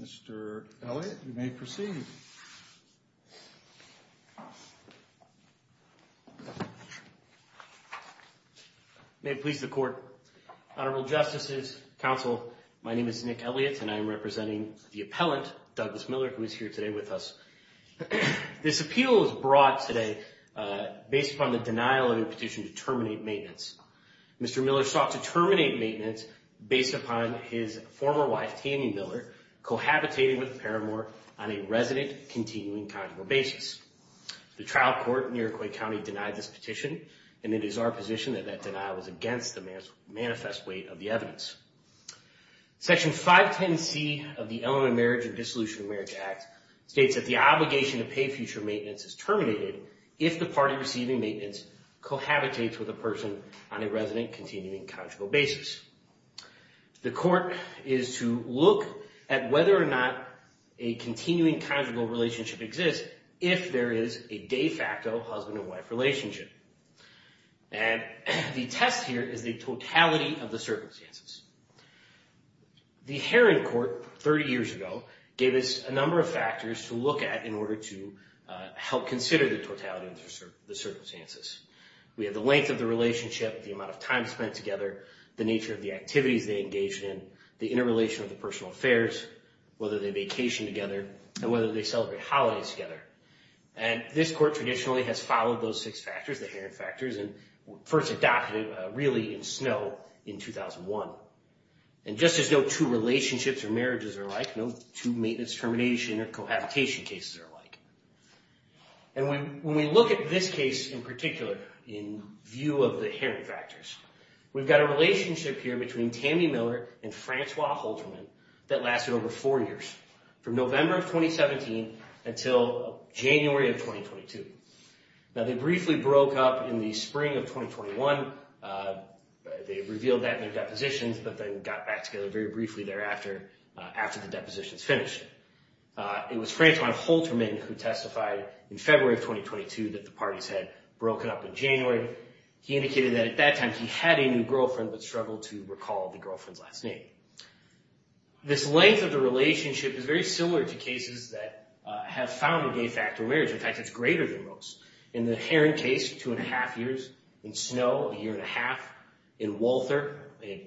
Mr. Elliott, you may proceed. May it please the court, Honorable Justices, Counsel, my name is Nick Elliott and I am representing the appellant, Douglas Miller, who is here today with us. This appeal is brought today based upon the denial of a petition to terminate maintenance. Mr. Miller sought to terminate maintenance based upon his former wife, Tammy Miller, cohabitating with Paramore on a resident continuing conjugal basis. The trial court in Iroquois County denied this petition and it is our position that that denial was against the manifest weight of the evidence. Section 510C of the Element of Marriage and Dissolution of Marriage Act states that the obligation to pay future maintenance is terminated if the party receiving maintenance cohabitates with a person on a resident continuing conjugal basis. The court is to look at whether or not a continuing conjugal relationship exists if there is a de facto husband and wife relationship. And the test here is the totality of the circumstances. The Heron Court 30 years ago gave us a number of factors to look at in order to help consider the totality of the circumstances. We have the length of the relationship, the amount of time spent together, the nature of the activities they engaged in, the interrelation of the personal affairs, whether they vacation together and whether they celebrate holidays together. And this court traditionally has followed those six factors, the Heron factors, and first adopted it really in Snow in 2001. And just as no two relationships or marriages are alike, no two maintenance termination or cohabitation cases are alike. And when we look at this case in particular, in view of the Heron factors, we've got a relationship here between Tammy Miller and Francois Hulterman that lasted over four years, from November of 2017 until January of 2022. Now, they briefly broke up in the spring of 2021. They revealed that in their depositions, but then got back together very briefly thereafter after the depositions finished. It was Francois Hulterman who testified in February of 2022 that the parties had broken up in January. He indicated that at that time he had a new girlfriend, but struggled to recall the girlfriend's last name. This length of the relationship is very similar to cases that have found a gay factor marriage. In fact, it's greater than most. In the Heron case, two and a half years. In Snow, a year and a half. In Walther,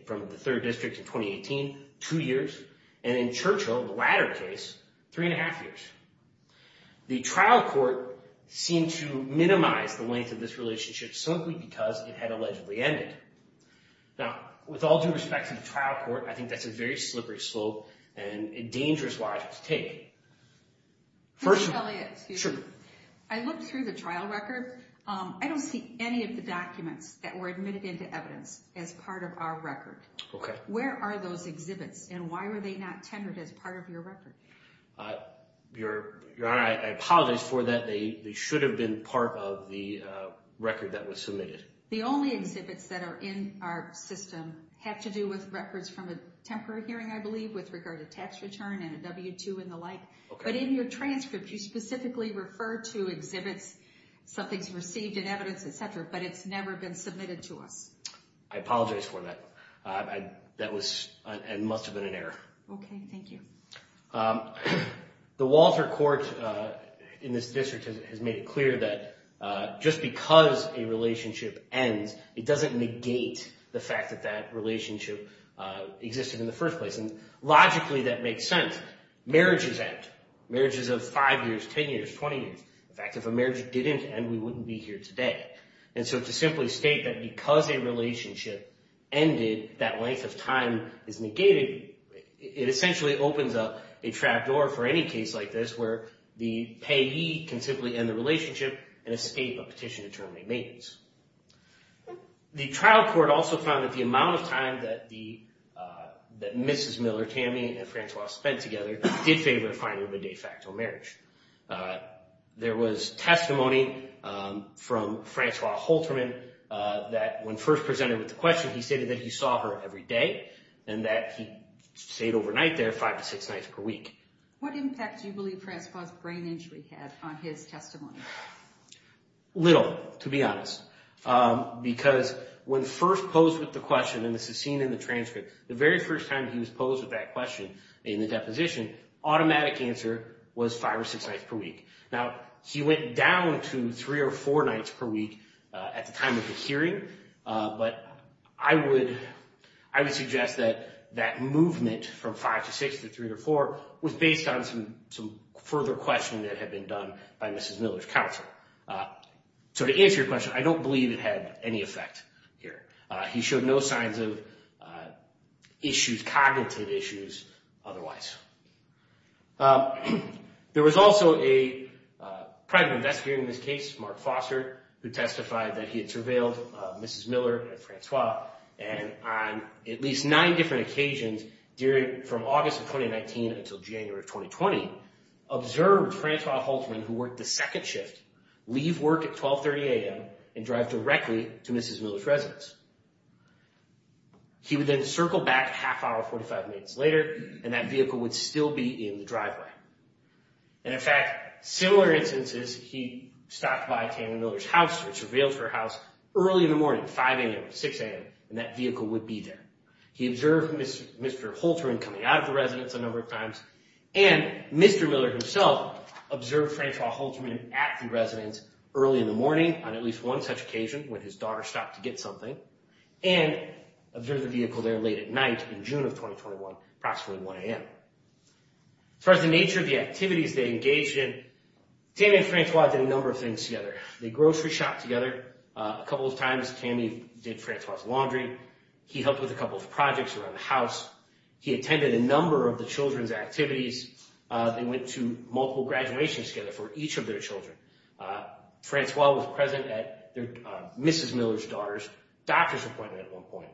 from the third district in 2018, two years. And in Churchill, the latter case, three and a half years. The trial court seemed to minimize the length of this relationship simply because it had allegedly ended. Now, with all due respect to the trial court, I think that's a very slippery slope and a dangerous ride to take. First... Mr. Elliott. Excuse me. Sure. I looked through the trial record. I don't see any of the documents that were admitted into evidence as part of our record. Okay. Where are those exhibits and why were they not tendered as part of your record? Your Honor, I apologize for that. They should have been part of the record that was submitted. The only exhibits that are in our system have to do with records from a temporary hearing, I believe, with regard to tax return and a W-2 and the like. Okay. But in your transcript, you specifically refer to exhibits, somethings received in evidence, et cetera, but it's never been submitted to us. I apologize for that. That must have been an error. Okay. Thank you. The Walter Court in this district has made it clear that just because a relationship ends, it doesn't negate the fact that that relationship existed in the first place. Logically, that makes sense. Marriages end. Marriages of 5 years, 10 years, 20 years. In fact, if a marriage didn't end, we wouldn't be here today. And so to simply state that because a relationship ended, that length of time is negated, it essentially opens up a trap door for any case like this where the payee can simply end the relationship and escape a petition to terminate matrons. The trial court also found that the amount of time that Mrs. Miller-Tammy and Francois spent together did favor the finding of a de facto marriage. There was testimony from Francois Holterman that when first presented with the question, he stated that he saw her every day and that he stayed overnight there five to six nights per week. What impact do you believe Francois' brain injury had on his testimony? Little, to be honest, because when first posed with the question, and this is seen in the transcript, the very first time he was posed with that question in the deposition, automatic answer was five or six nights per week. Now, he went down to three or four nights per week at the time of the hearing, but I would suggest that that movement from five to six to three to four was based on some further questioning that had been done by Mrs. Miller's counsel. So to answer your question, I don't believe it had any effect here. He showed no signs of issues, cognitive issues, otherwise. There was also a private investigator in this case, Mark Foster, who testified that he had visited Mrs. Miller and Francois on at least nine different occasions from August of 2019 until January of 2020, observed Francois Holterman, who worked the second shift, leave work at 12.30 a.m. and drive directly to Mrs. Miller's residence. He would then circle back a half hour, 45 minutes later, and that vehicle would still be in the driveway. And in fact, similar instances, he stopped by Tana Miller's house, which was her house, early in the morning, 5 a.m., 6 a.m., and that vehicle would be there. He observed Mr. Holterman coming out of the residence a number of times, and Mr. Miller himself observed Francois Holterman at the residence early in the morning on at least one such occasion, when his daughter stopped to get something, and observed the vehicle there late at night in June of 2021, approximately 1 a.m. As far as the nature of the activities they engaged in, Tana and Francois did a number of things together. They grocery shopped together a couple of times. Tammy did Francois' laundry. He helped with a couple of projects around the house. He attended a number of the children's activities. They went to multiple graduations together for each of their children. Francois was present at Mrs. Miller's daughter's doctor's appointment at one point.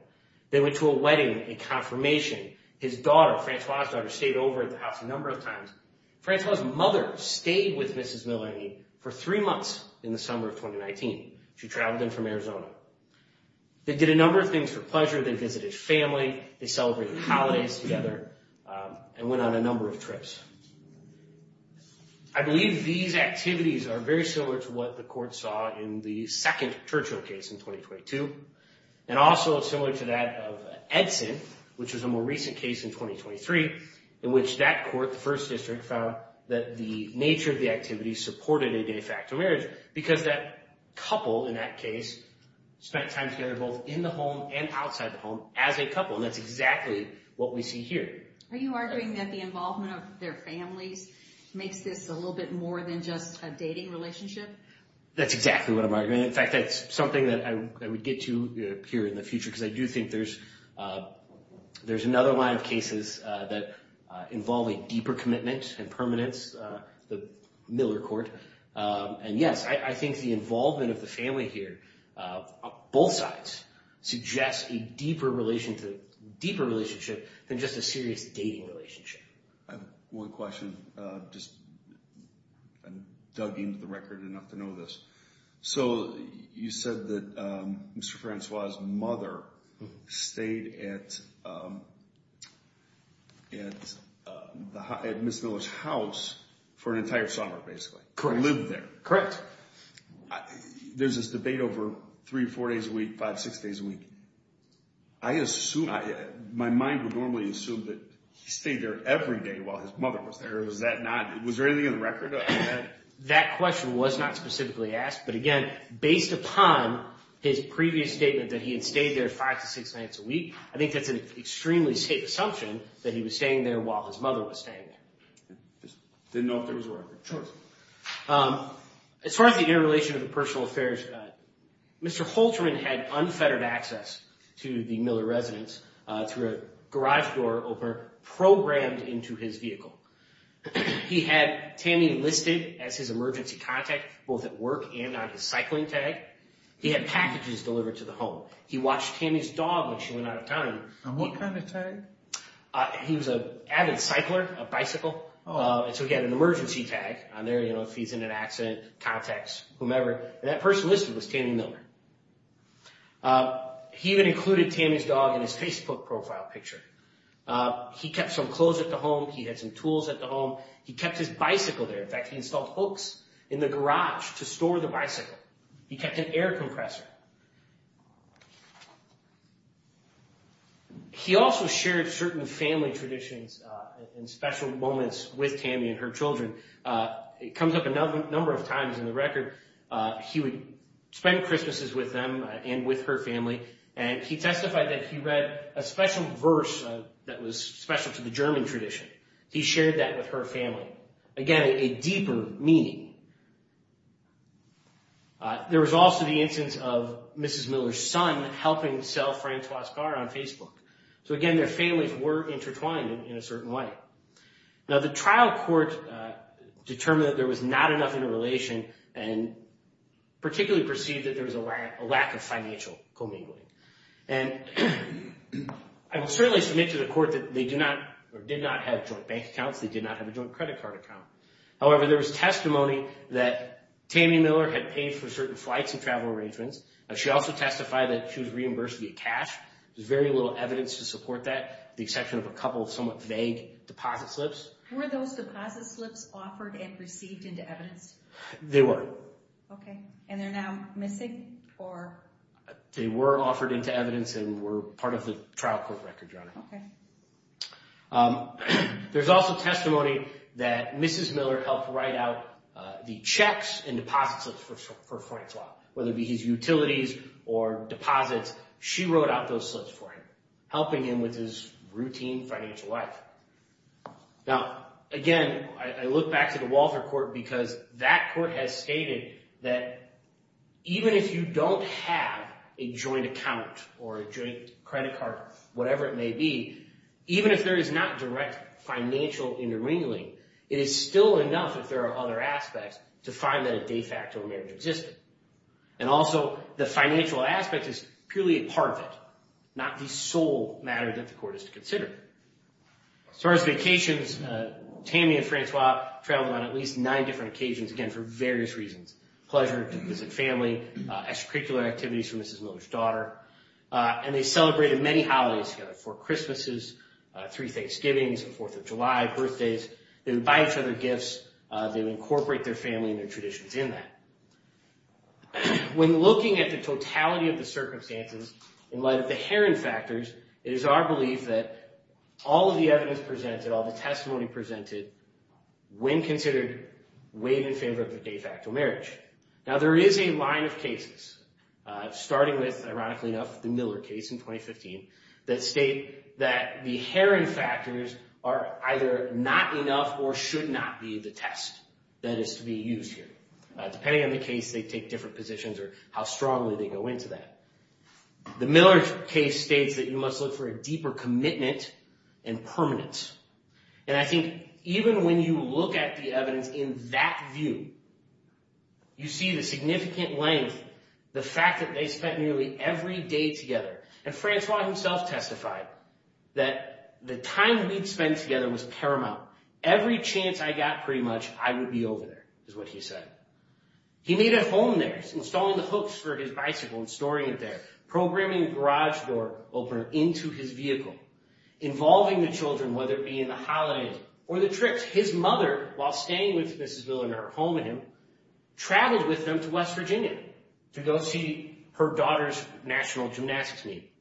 They went to a wedding and confirmation. His daughter, Francois' daughter, stayed over at the house a number of times. Francois' mother stayed with Mrs. Miller for three months in the summer of 2019. She traveled in from Arizona. They did a number of things for pleasure. They visited family. They celebrated holidays together and went on a number of trips. I believe these activities are very similar to what the court saw in the second Churchill case in 2022, and also similar to that of Edson, which was a more recent case in 2023, in which that court, the first district, found that the nature of the activity supported a de facto marriage because that couple in that case spent time together both in the home and outside the home as a couple, and that's exactly what we see here. Are you arguing that the involvement of their families makes this a little bit more than just a dating relationship? That's exactly what I'm arguing. In fact, that's something that I would get to here in the future because I do think there's another line of cases that involve a deeper commitment and permanence, the Miller court. Yes, I think the involvement of the family here, both sides, suggests a deeper relationship than just a serious dating relationship. I have one question. I'm just dug into the record enough to know this. You said that Mr. Francois's mother stayed at Ms. Miller's house for an entire summer, basically. Correct. Lived there. Correct. There's this debate over three, four days a week, five, six days a week. My mind would normally assume that he stayed there every day while his mother was there. Was there anything in the record on that? That question was not specifically asked, but again, based upon his previous statement that he had stayed there five to six nights a week, I think that's an extremely safe assumption that he was staying there while his mother was staying there. Just didn't know if there was a record. Sure. As far as the interrelation of the personal affairs, Mr. Holterman had unfettered access to the Miller residence through a garage door programed into his vehicle. He had Tammy listed as his emergency contact, both at work and on his cycling tag. He had packages delivered to the home. He watched Tammy's dog when she went out of town. On what kind of tag? He was an avid cycler, a bicycle, and so he had an emergency tag on there, you know, if he's in an accident, contacts, whomever. And that person listed was Tammy Miller. He even included Tammy's dog in his Facebook profile picture. He kept some clothes at the home. He had some tools at the home. He kept his bicycle there. In fact, he installed hooks in the garage to store the bicycle. He kept an air compressor. He also shared certain family traditions and special moments with Tammy and her children. It comes up a number of times in the record. He would spend Christmases with them and with her family, and he testified that he read a special verse that was special to the German tradition. He shared that with her family. Again, a deeper meaning. There was also the instance of Mrs. Miller's son helping sell Francois's car on Facebook. So again, their families were intertwined in a certain way. Now, the trial court determined that there was not enough interrelation and particularly perceived that there was a lack of financial commingling. I will certainly submit to the court that they did not have joint bank accounts. They did not have a joint credit card account. However, there was testimony that Tammy Miller had paid for certain flights and travel arrangements. She also testified that she was reimbursed via cash. There's very little evidence to support that, with the exception of a couple of somewhat vague deposit slips. Were those deposit slips offered and received into evidence? They were. Okay. And they're now missing? They were offered into evidence and were part of the trial court record, Your Honor. Okay. There's also testimony that Mrs. Miller helped write out the checks and deposit slips for Francois, whether it be his utilities or deposits. She wrote out those slips for him, helping him with his routine financial life. Now, again, I look back to the Walter Court because that court has stated that even if you don't have a joint account or a joint credit card, whatever it may be, even if there is not direct financial intermingling, it is still enough, if there are other aspects, to find that a de facto marriage existed. And also, the financial aspect is purely a part of it, not the sole matter that the court is to consider. As far as vacations, Tammy and Francois traveled on at least nine different occasions, again, for various reasons. Pleasure to visit family, extracurricular activities for Mrs. Miller's daughter, and they celebrated many holidays together. Four Christmases, three Thanksgivings, the Fourth of July, birthdays. They would buy each other gifts. They would incorporate their family and their traditions in that. When looking at the totality of the circumstances, in light of the Heron factors, it is our belief that all of the evidence presented, all the testimony presented, when considered, weighed in favor of the de facto marriage. Now, there is a line of cases, starting with, ironically enough, the Miller case in 2015, that state that the Heron factors are either not enough or should not be the test that is to be used here. Depending on the case, they take different positions or how strongly they go into that. The Miller case states that you must look for a deeper commitment and permanence. And I think even when you look at the evidence in that view, you see the significant length, the fact that they spent nearly every day together. And Francois himself testified that the time we'd spend together was paramount. Every chance I got, pretty much, I would be over there, is what he said. He made a home there, installing the hooks for his bicycle and storing it there, programming the garage door opener into his vehicle, involving the children, whether it be in the holidays or the trips. His mother, while staying with Mrs. Miller in her home with him, traveled with them to West Virginia to go see her daughter's national gymnastics meet.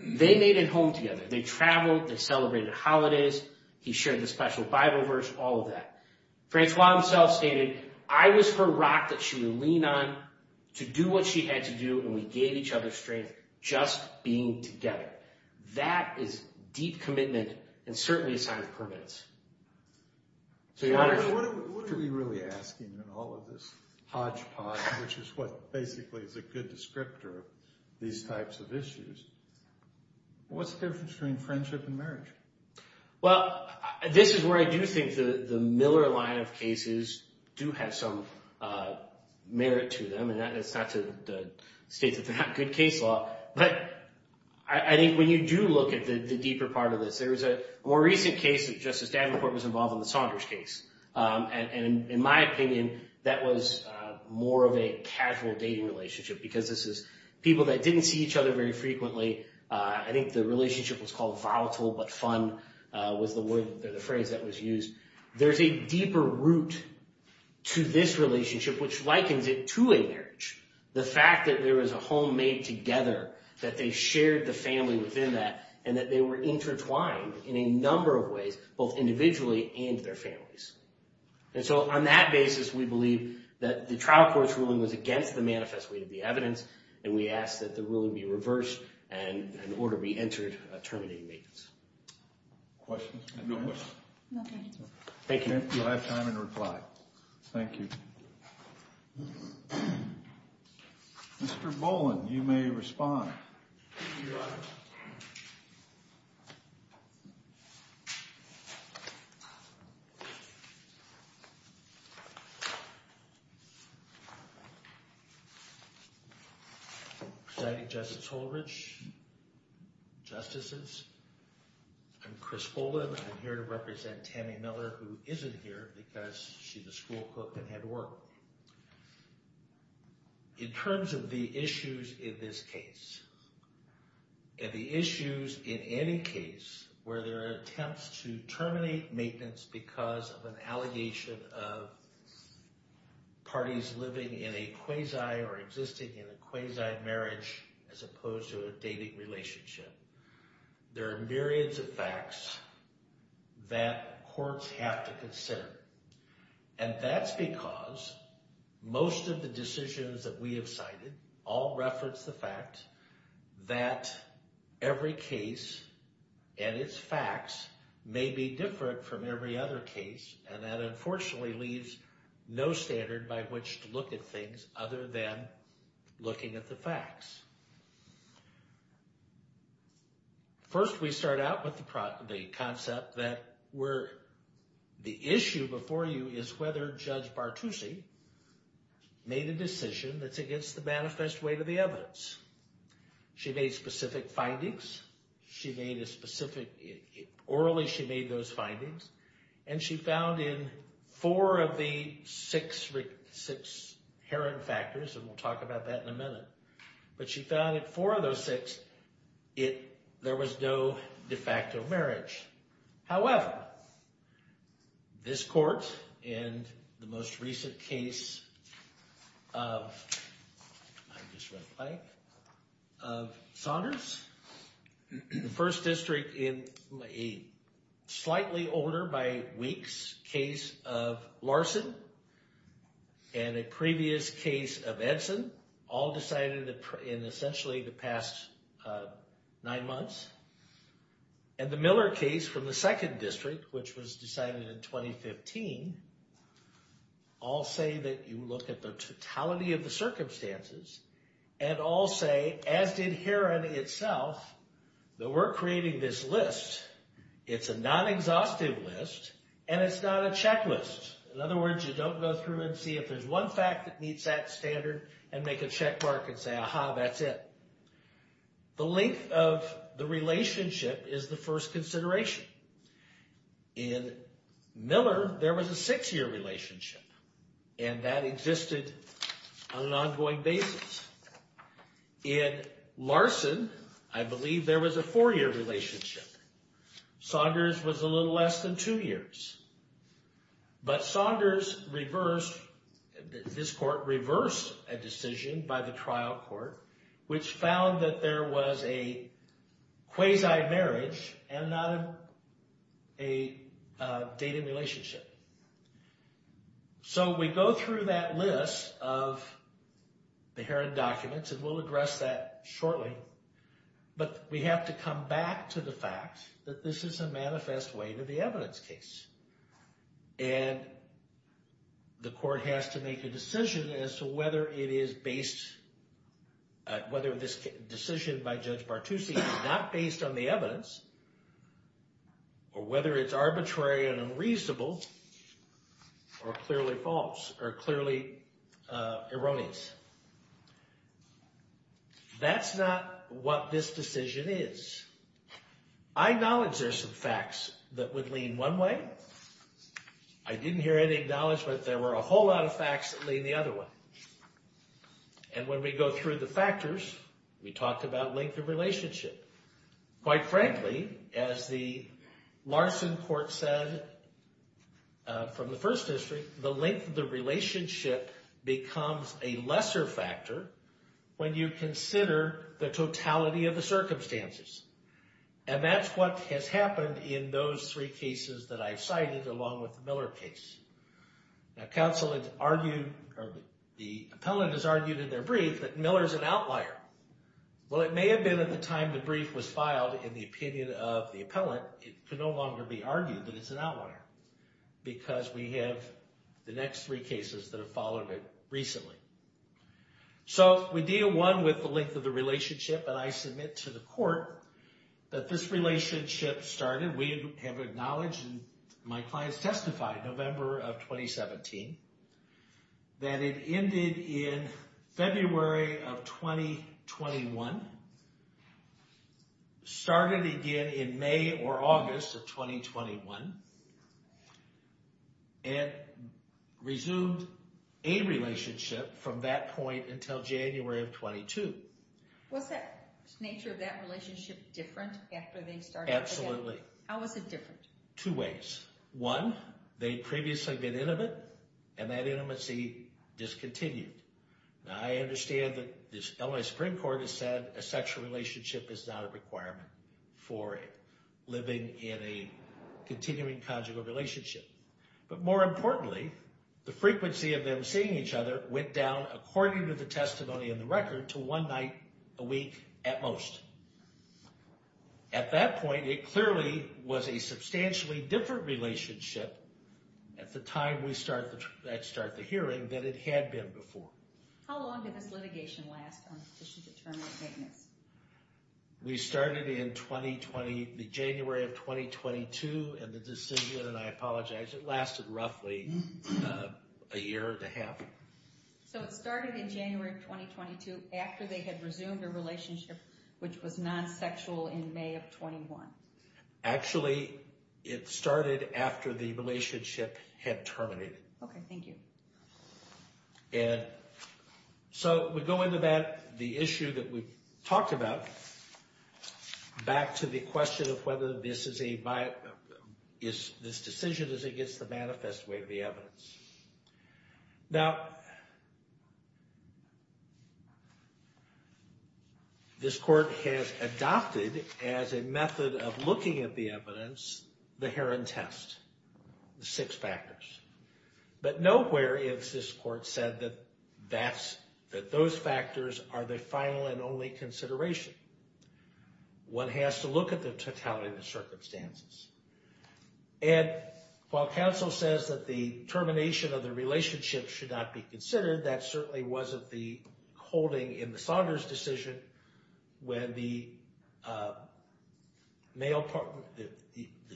They made a home together. They traveled, they celebrated holidays, he shared the special Bible verse, all of that. Francois himself stated, I was her rock that she would lean on to do what she had to do, and we gave each other strength just being together. That is deep commitment and certainly a sign of permanence. What are we really asking in all of this hodgepodge, which is what basically is a good descriptor of these types of issues? What's the difference between friendship and marriage? Well, this is where I do think the Miller line of cases do have some merit to them, and that's not to state that they're not good case law, but I think when you do look at the deeper part of this, there was a more recent case that Justice Davenport was involved in, the Saunders case. In my opinion, that was more of a casual dating relationship because this is people that didn't see each other very frequently. I think the relationship was called volatile, but fun was the phrase that was used. There's a deeper root to this relationship, which likens it to a marriage. The fact that there was a home made together, that they shared the family within that, and that they were intertwined in a number of ways, both individually and their families. And so on that basis, we believe that the trial court's ruling was against the manifest weight of the evidence, and we ask that the ruling be reversed and an order be entered terminating the case. Questions? No questions. Thank you. You'll have time in reply. Thank you. Mr. Boland, you may respond. Your Honor. Presiding Justice Holdridge, Justices, I'm Chris Boland. I'm here to represent Tammy Miller, who isn't here because she's a school cook and had to work. In terms of the issues in this case, and the issues in any case where there are attempts to terminate maintenance because of an allegation of parties living in a quasi or existing in a quasi marriage as opposed to a dating relationship, there are myriads of facts that courts have to consider. And that's because most of the decisions that we have cited all reference the fact that every case and its facts may be different from every other case, and that unfortunately leaves no standard by which to look at things other than looking at the facts. First, we start out with the concept that the issue before you is whether Judge Bartusi made a decision that's against the manifest weight of the evidence. She made specific findings. She made a specific, orally she made those findings, and she found in four of the six herring factors, and we'll talk about that in a minute, but she found in four of those six, there was no de facto marriage. However, this court in the most recent case of Saunders, the first district in a slightly older by weeks case of Larson, and a previous case of Edson, all decided in essentially the past nine months. And the Miller case from the second district, which was decided in 2015, all say that you look at the totality of the circumstances, and all say, as did Heron itself, that we're creating this list. It's a non-exhaustive list, and it's not a checklist. In other words, you don't go through and see if there's one fact that meets that standard and make a check mark and say, aha, that's it. The length of the relationship is the first consideration. In Miller, there was a six-year relationship, and that existed on an ongoing basis. In Larson, I believe there was a four-year relationship. Saunders was a little less than two years. But Saunders reversed, this court reversed a decision by the trial court, which found that there was a quasi-marriage and not a dating relationship. So we go through that list of the Heron documents, and we'll address that shortly, but we have to come back to the fact that this is a manifest way to the evidence case. And the court has to make a decision as to whether it is based, whether this decision by Judge Bartusi is not based on the evidence, or whether it's arbitrary and unreasonable, or clearly false, or clearly erroneous. That's not what this decision is. I acknowledge there's some facts that would lean one way. I didn't hear any acknowledgment that there were a whole lot of facts that lean the other way. And when we go through the factors, we talked about length of relationship. Quite frankly, as the Larson court said from the First District, the length of the relationship becomes a lesser factor when you consider the totality of the circumstances. And that's what has happened in those three cases that I've cited, along with the Miller case. Now counsel has argued, or the appellant has argued in their brief, that Miller's an outlier. Well it may have been at the time the brief was filed, in the opinion of the appellant, it could no longer be argued that it's an outlier. Because we have the next three cases that have followed it recently. So we deal, one, with the length of the relationship, and I submit to the court that this relationship started, we have acknowledged, and my clients testified in November of 2017, that it ended in February of 2021, started again in May or August of 2021, and resumed a relationship from that point until January of 22. Was the nature of that relationship different after they started together? Absolutely. How was it different? Two ways. One, they'd previously been intimate, and that intimacy discontinued. Now I understand that the LA Supreme Court has said a sexual relationship is not a requirement for living in a continuing conjugal relationship. But more importantly, the frequency of them seeing each other went down, according to the testimony in the record, to one night a week at most. At that point, it clearly was a substantially different relationship at the time we start the hearing than it had been before. How long did this litigation last on petition to terminate maintenance? We started in January of 2022, and the decision, and I apologize, it lasted roughly a year and a half. So it started in January of 2022 after they had resumed a relationship which was non-sexual in May of 21. Actually, it started after the relationship had terminated. Okay, thank you. And so we go into that, the issue that we talked about, back to the question of whether this decision is against the manifest way of the evidence. Now, this court has adopted as a method of looking at the evidence the Heron Test, the six factors. But nowhere is this court said that those factors are the final and only consideration. One has to look at the totality of the circumstances. And while counsel says that the termination of the relationship should not be considered, that certainly wasn't the holding in the Saunders decision when the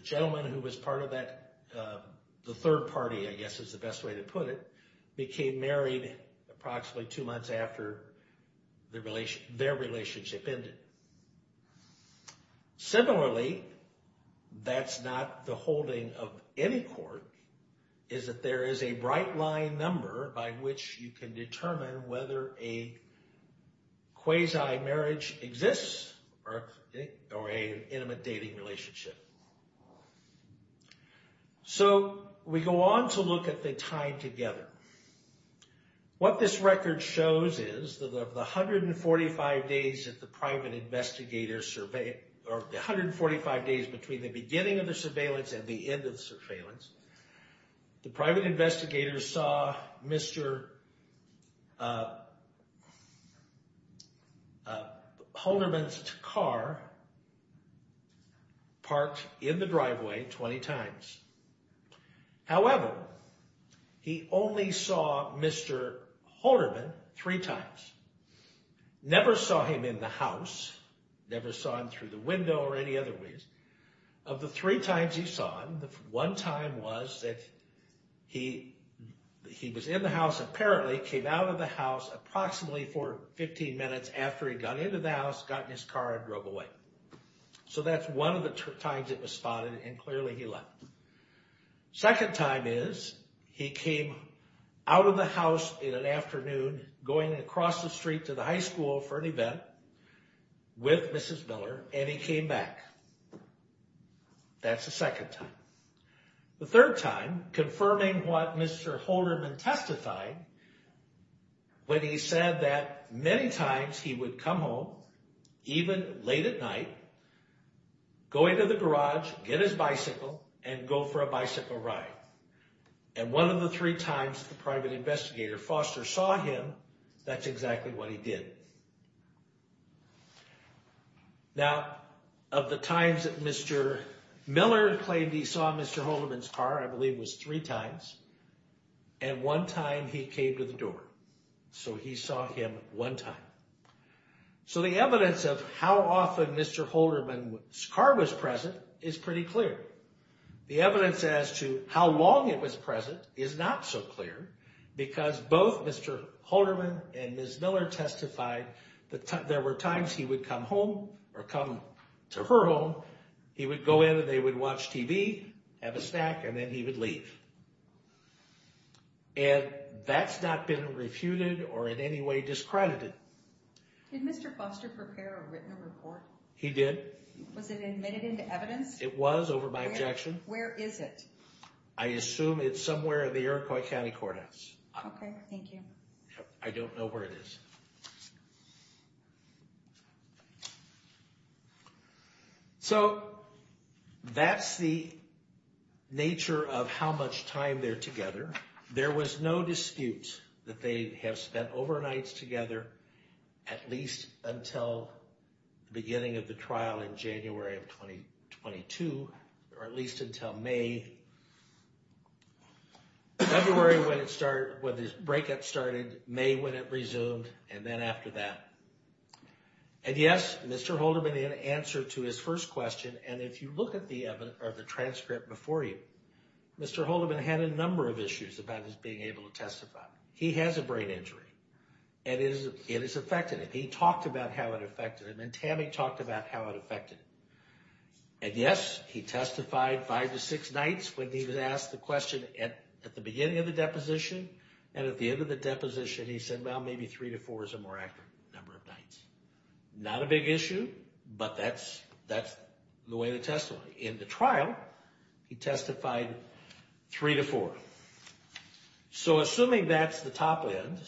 gentleman who was part of that, the third party, I guess is the best way to put it, became married approximately two months after their relationship ended. Similarly, that's not the holding of any court, is that there is a bright line number by which you can determine whether a quasi-marriage exists or an intimate dating relationship. So we go on to look at the time together. What this record shows is that of the 145 days between the beginning of the surveillance and the end of the surveillance, the private investigator saw Mr. Holderman's car parked in the driveway 20 times. However, he only saw Mr. Holderman three times. Never saw him in the house, never saw him through the window or any other ways. Of the three times he saw him, the one time was that he was in the house apparently, came out of the house approximately for 15 minutes after he got into the house, got in his car and drove away. So that's one of the times it was spotted and clearly he left. Second time is he came out of the house in an afternoon going across the street to the high school for an event with Mrs. Miller and he came back. That's the second time. The third time, confirming what Mr. Holderman testified, when he said that many times he would come home, even late at night, go into the garage, get his bicycle and go for a bicycle ride. And one of the three times the private investigator Foster saw him, that's exactly what he did. Now, of the times that Mr. Miller claimed he saw Mr. Holderman's car, I believe it was three times. And one time he came to the door, so he saw him one time. So the evidence of how often Mr. Holderman's car was present is pretty clear. The evidence as to how long it was present is not so clear because both Mr. Holderman and Mrs. Miller testified that there were times he would come home, or come to her home, he would go in and they would watch TV, have a snack and then he would leave. And that's not been refuted or in any way discredited. Did Mr. Foster prepare or written a report? He did. Was it admitted into evidence? It was, over my objection. Where is it? I assume it's somewhere in the Iroquois County Courthouse. Okay, thank you. I don't know where it is. So that's the nature of how much time they're together. There was no dispute that they have spent overnights together at least until the beginning of the trial in January of 2022, or at least until May. February when the breakup started, May when it resumed, and then after that. And yes, Mr. Holderman in answer to his first question, and if you look at the transcript before you, Mr. Holderman had a number of issues about his being able to testify. He has a brain injury, and it has affected him. He talked about how it affected him, and Tammy talked about how it affected him. And yes, he testified five to six nights when he was asked the question at the beginning of the deposition, and at the end of the deposition, he said, well, maybe three to four is a more accurate number of nights. Not a big issue, but that's the way the testimony. In the trial, he testified three to four. So assuming that's the top end,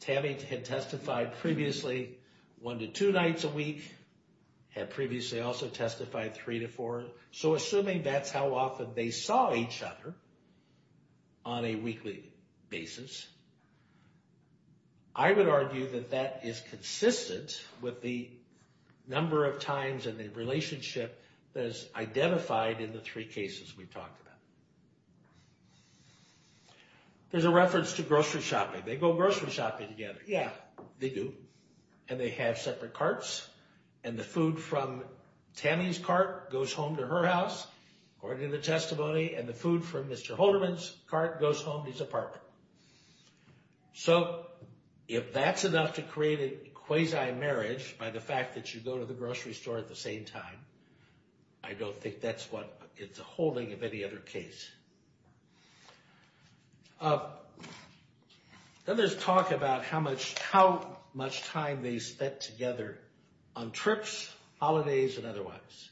Tammy had testified previously one to two nights a week, had previously also testified three to four. So assuming that's how often they saw each other on a weekly basis, I would argue that that is consistent with the number of times and the relationship that is identified in the three cases we talked about. There's a reference to grocery shopping. They go grocery shopping together. Yeah, they do, and they have separate carts, and the food from Tammy's cart goes home to her house according to the testimony, and the food from Mr. Holderman's cart goes home to his apartment. So if that's enough to create a quasi-marriage by the fact that you go to the grocery store at the same time, I don't think that's what it's a holding of any other case. Then there's talk about how much time they spent together on trips, holidays, and otherwise.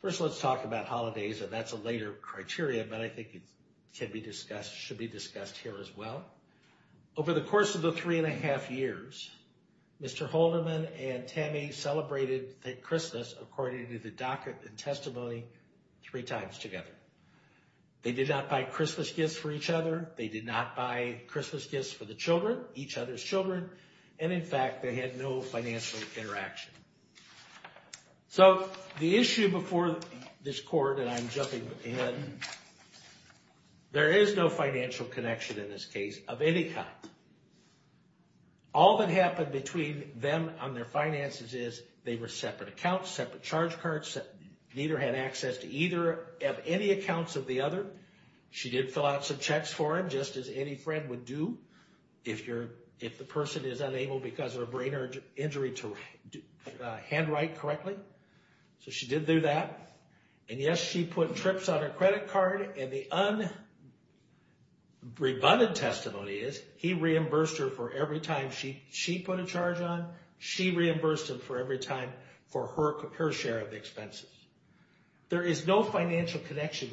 First, let's talk about holidays, and that's a later criteria, but I think it should be discussed here as well. Over the course of the three and a half years, Mr. Holderman and Tammy celebrated Christmas according to the docket and testimony three times together. They did not buy Christmas gifts for each other. They did not buy Christmas gifts for the children, each other's children, and in fact, they had no financial interaction. So the issue before this court, and I'm jumping ahead, there is no financial connection in this case of any kind. All that happened between them on their finances is they were separate accounts, separate charge cards. Neither had access to either of any accounts of the other. She did fill out some checks for him, just as any friend would do if the person is unable because of a brain injury to handwrite correctly. So she did do that, and yes, she put trips on her credit card, and the unrebunded testimony is he reimbursed her for every time she put a charge on, she reimbursed him for every time for her share of the expenses. There is no financial connection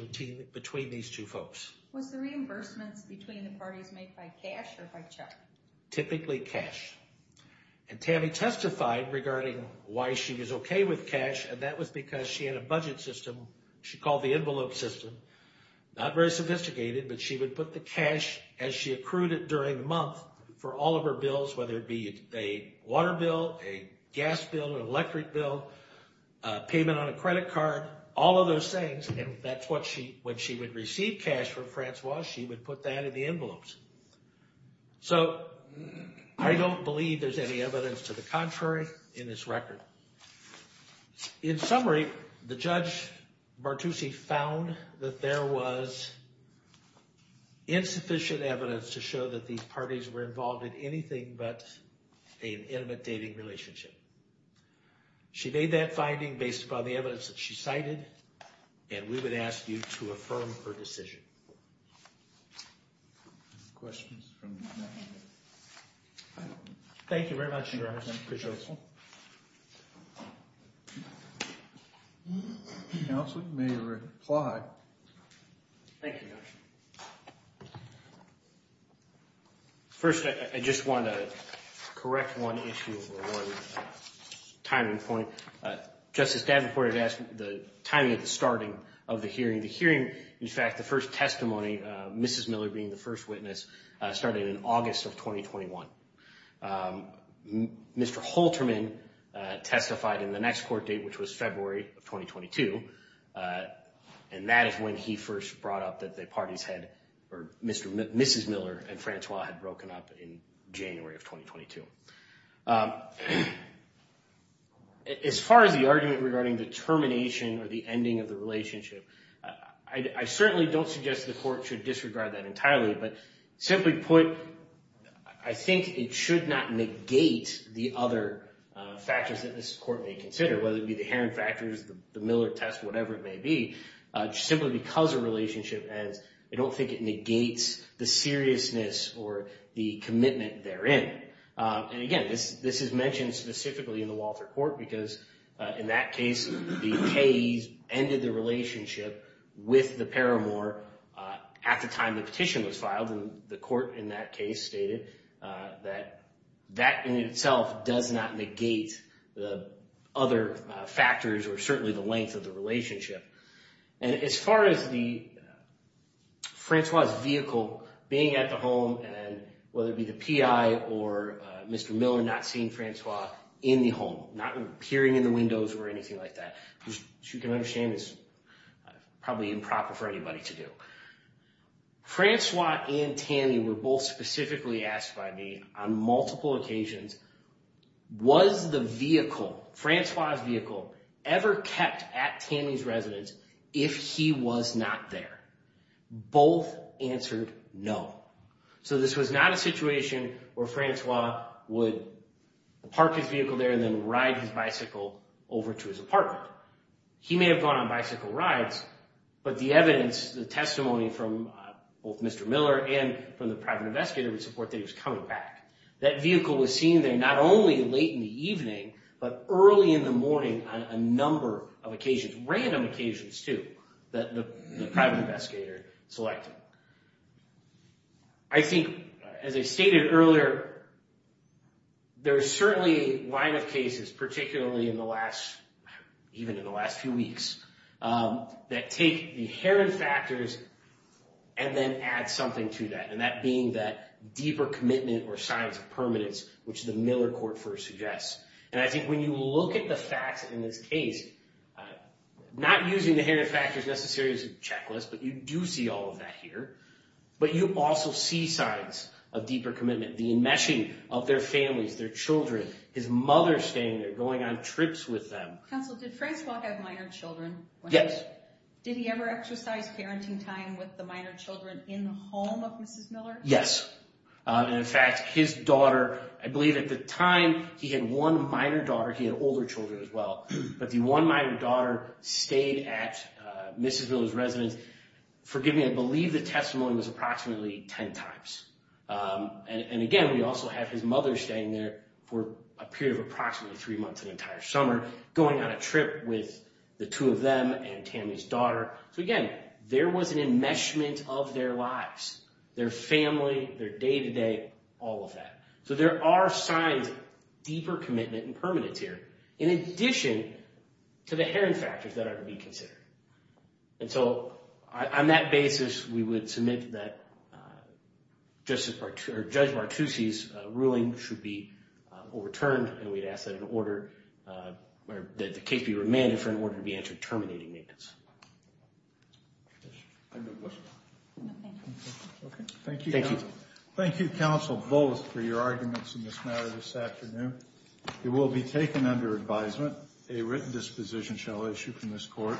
between these two folks. Was the reimbursement between the parties made by cash or by check? Typically cash, and Tammy testified regarding why she was okay with cash, and that was because she had a budget system she called the envelope system. Not very sophisticated, but she would put the cash as she accrued it during the month for all of her bills, whether it be a water bill, a gas bill, an electric bill, payment on a credit card, all of those things. And that's what she, when she would receive cash from Francois, she would put that in the envelopes. So I don't believe there's any evidence to the contrary in this record. In summary, the Judge Bartusi found that there was insufficient evidence to show that these parties were involved in anything but an intimate dating relationship. She made that finding based upon the evidence that she cited, and we would ask you to affirm her decision. Thank you very much, Your Honor, I appreciate it. Counsel may reply. Thank you, Your Honor. First, I just want to correct one issue or one timing point. Justice Davenport has asked the timing of the starting of the hearing. The hearing, in fact, the first testimony, Mrs. Miller being the first witness, started in August of 2021. Mr. Holterman testified in the next court date, which was February of 2022. And that is when he first brought up that the parties had, or Mrs. Miller and Francois had broken up in January of 2022. As far as the argument regarding the termination or the ending of the relationship, I certainly don't suggest the court should disregard that entirely. But simply put, I think it should not negate the other factors that this court may consider, whether it be the Heron factors, the Miller test, whatever it may be, simply because a relationship ends, I don't think it negates the seriousness or the commitment therein. And again, this is mentioned specifically in the Walter court because in that case, the Kays ended the relationship with the Paramore at the time the petition was filed. And the court in that case stated that that in itself does not negate the other factors or certainly the length of the relationship. And as far as the Francois' vehicle being at the home and whether it be the PI or Mr. Miller not seeing Francois in the home, not peering in the windows or anything like that, which you can understand is probably improper for anybody to do. Francois and Tammy were both specifically asked by me on multiple occasions, was the vehicle, Francois' vehicle ever kept at Tammy's residence if he was not there? Both answered no. So this was not a situation where Francois would park his vehicle there and then ride his bicycle over to his apartment. He may have gone on bicycle rides, but the evidence, the testimony from both Mr. Miller and from the private investigator would support that he was coming back. That vehicle was seen there not only late in the evening, but early in the morning on a number of occasions, random occasions too, that the private investigator selected. I think, as I stated earlier, there are certainly a line of cases, particularly in the last, even in the last few weeks, that take the inherent factors and then add something to that. And that being that deeper commitment or signs of permanence, which the Miller court first suggests. And I think when you look at the facts in this case, not using the inherent factors necessarily as a checklist, but you do see all of that here. But you also see signs of deeper commitment, the enmeshing of their families, their children, his mother staying there, going on trips with them. Counsel, did Francois have minor children? Yes. Did he ever exercise parenting time with the minor children in the home of Mrs. Miller? Yes. And in fact, his daughter, I believe at the time he had one minor daughter, he had older children as well, but the one minor daughter stayed at Mrs. Miller's residence. Forgive me, I believe the testimony was approximately 10 times. And again, we also have his mother staying there for a period of approximately three months, an entire summer, going on a trip with the two of them and Tammy's daughter. So again, there was an enmeshment of their lives, their family, their day-to-day, all of that. So there are signs of deeper commitment and permanence here, in addition to the inherent factors that are to be considered. And so on that basis, we would submit that Judge Martucci's ruling should be overturned and we'd ask that the case be remanded for an order to be entered terminating maintenance. Thank you, Counsel. Thank you, Counsel, both for your arguments in this matter this afternoon. It will be taken under advisement. A written disposition shall issue from this court.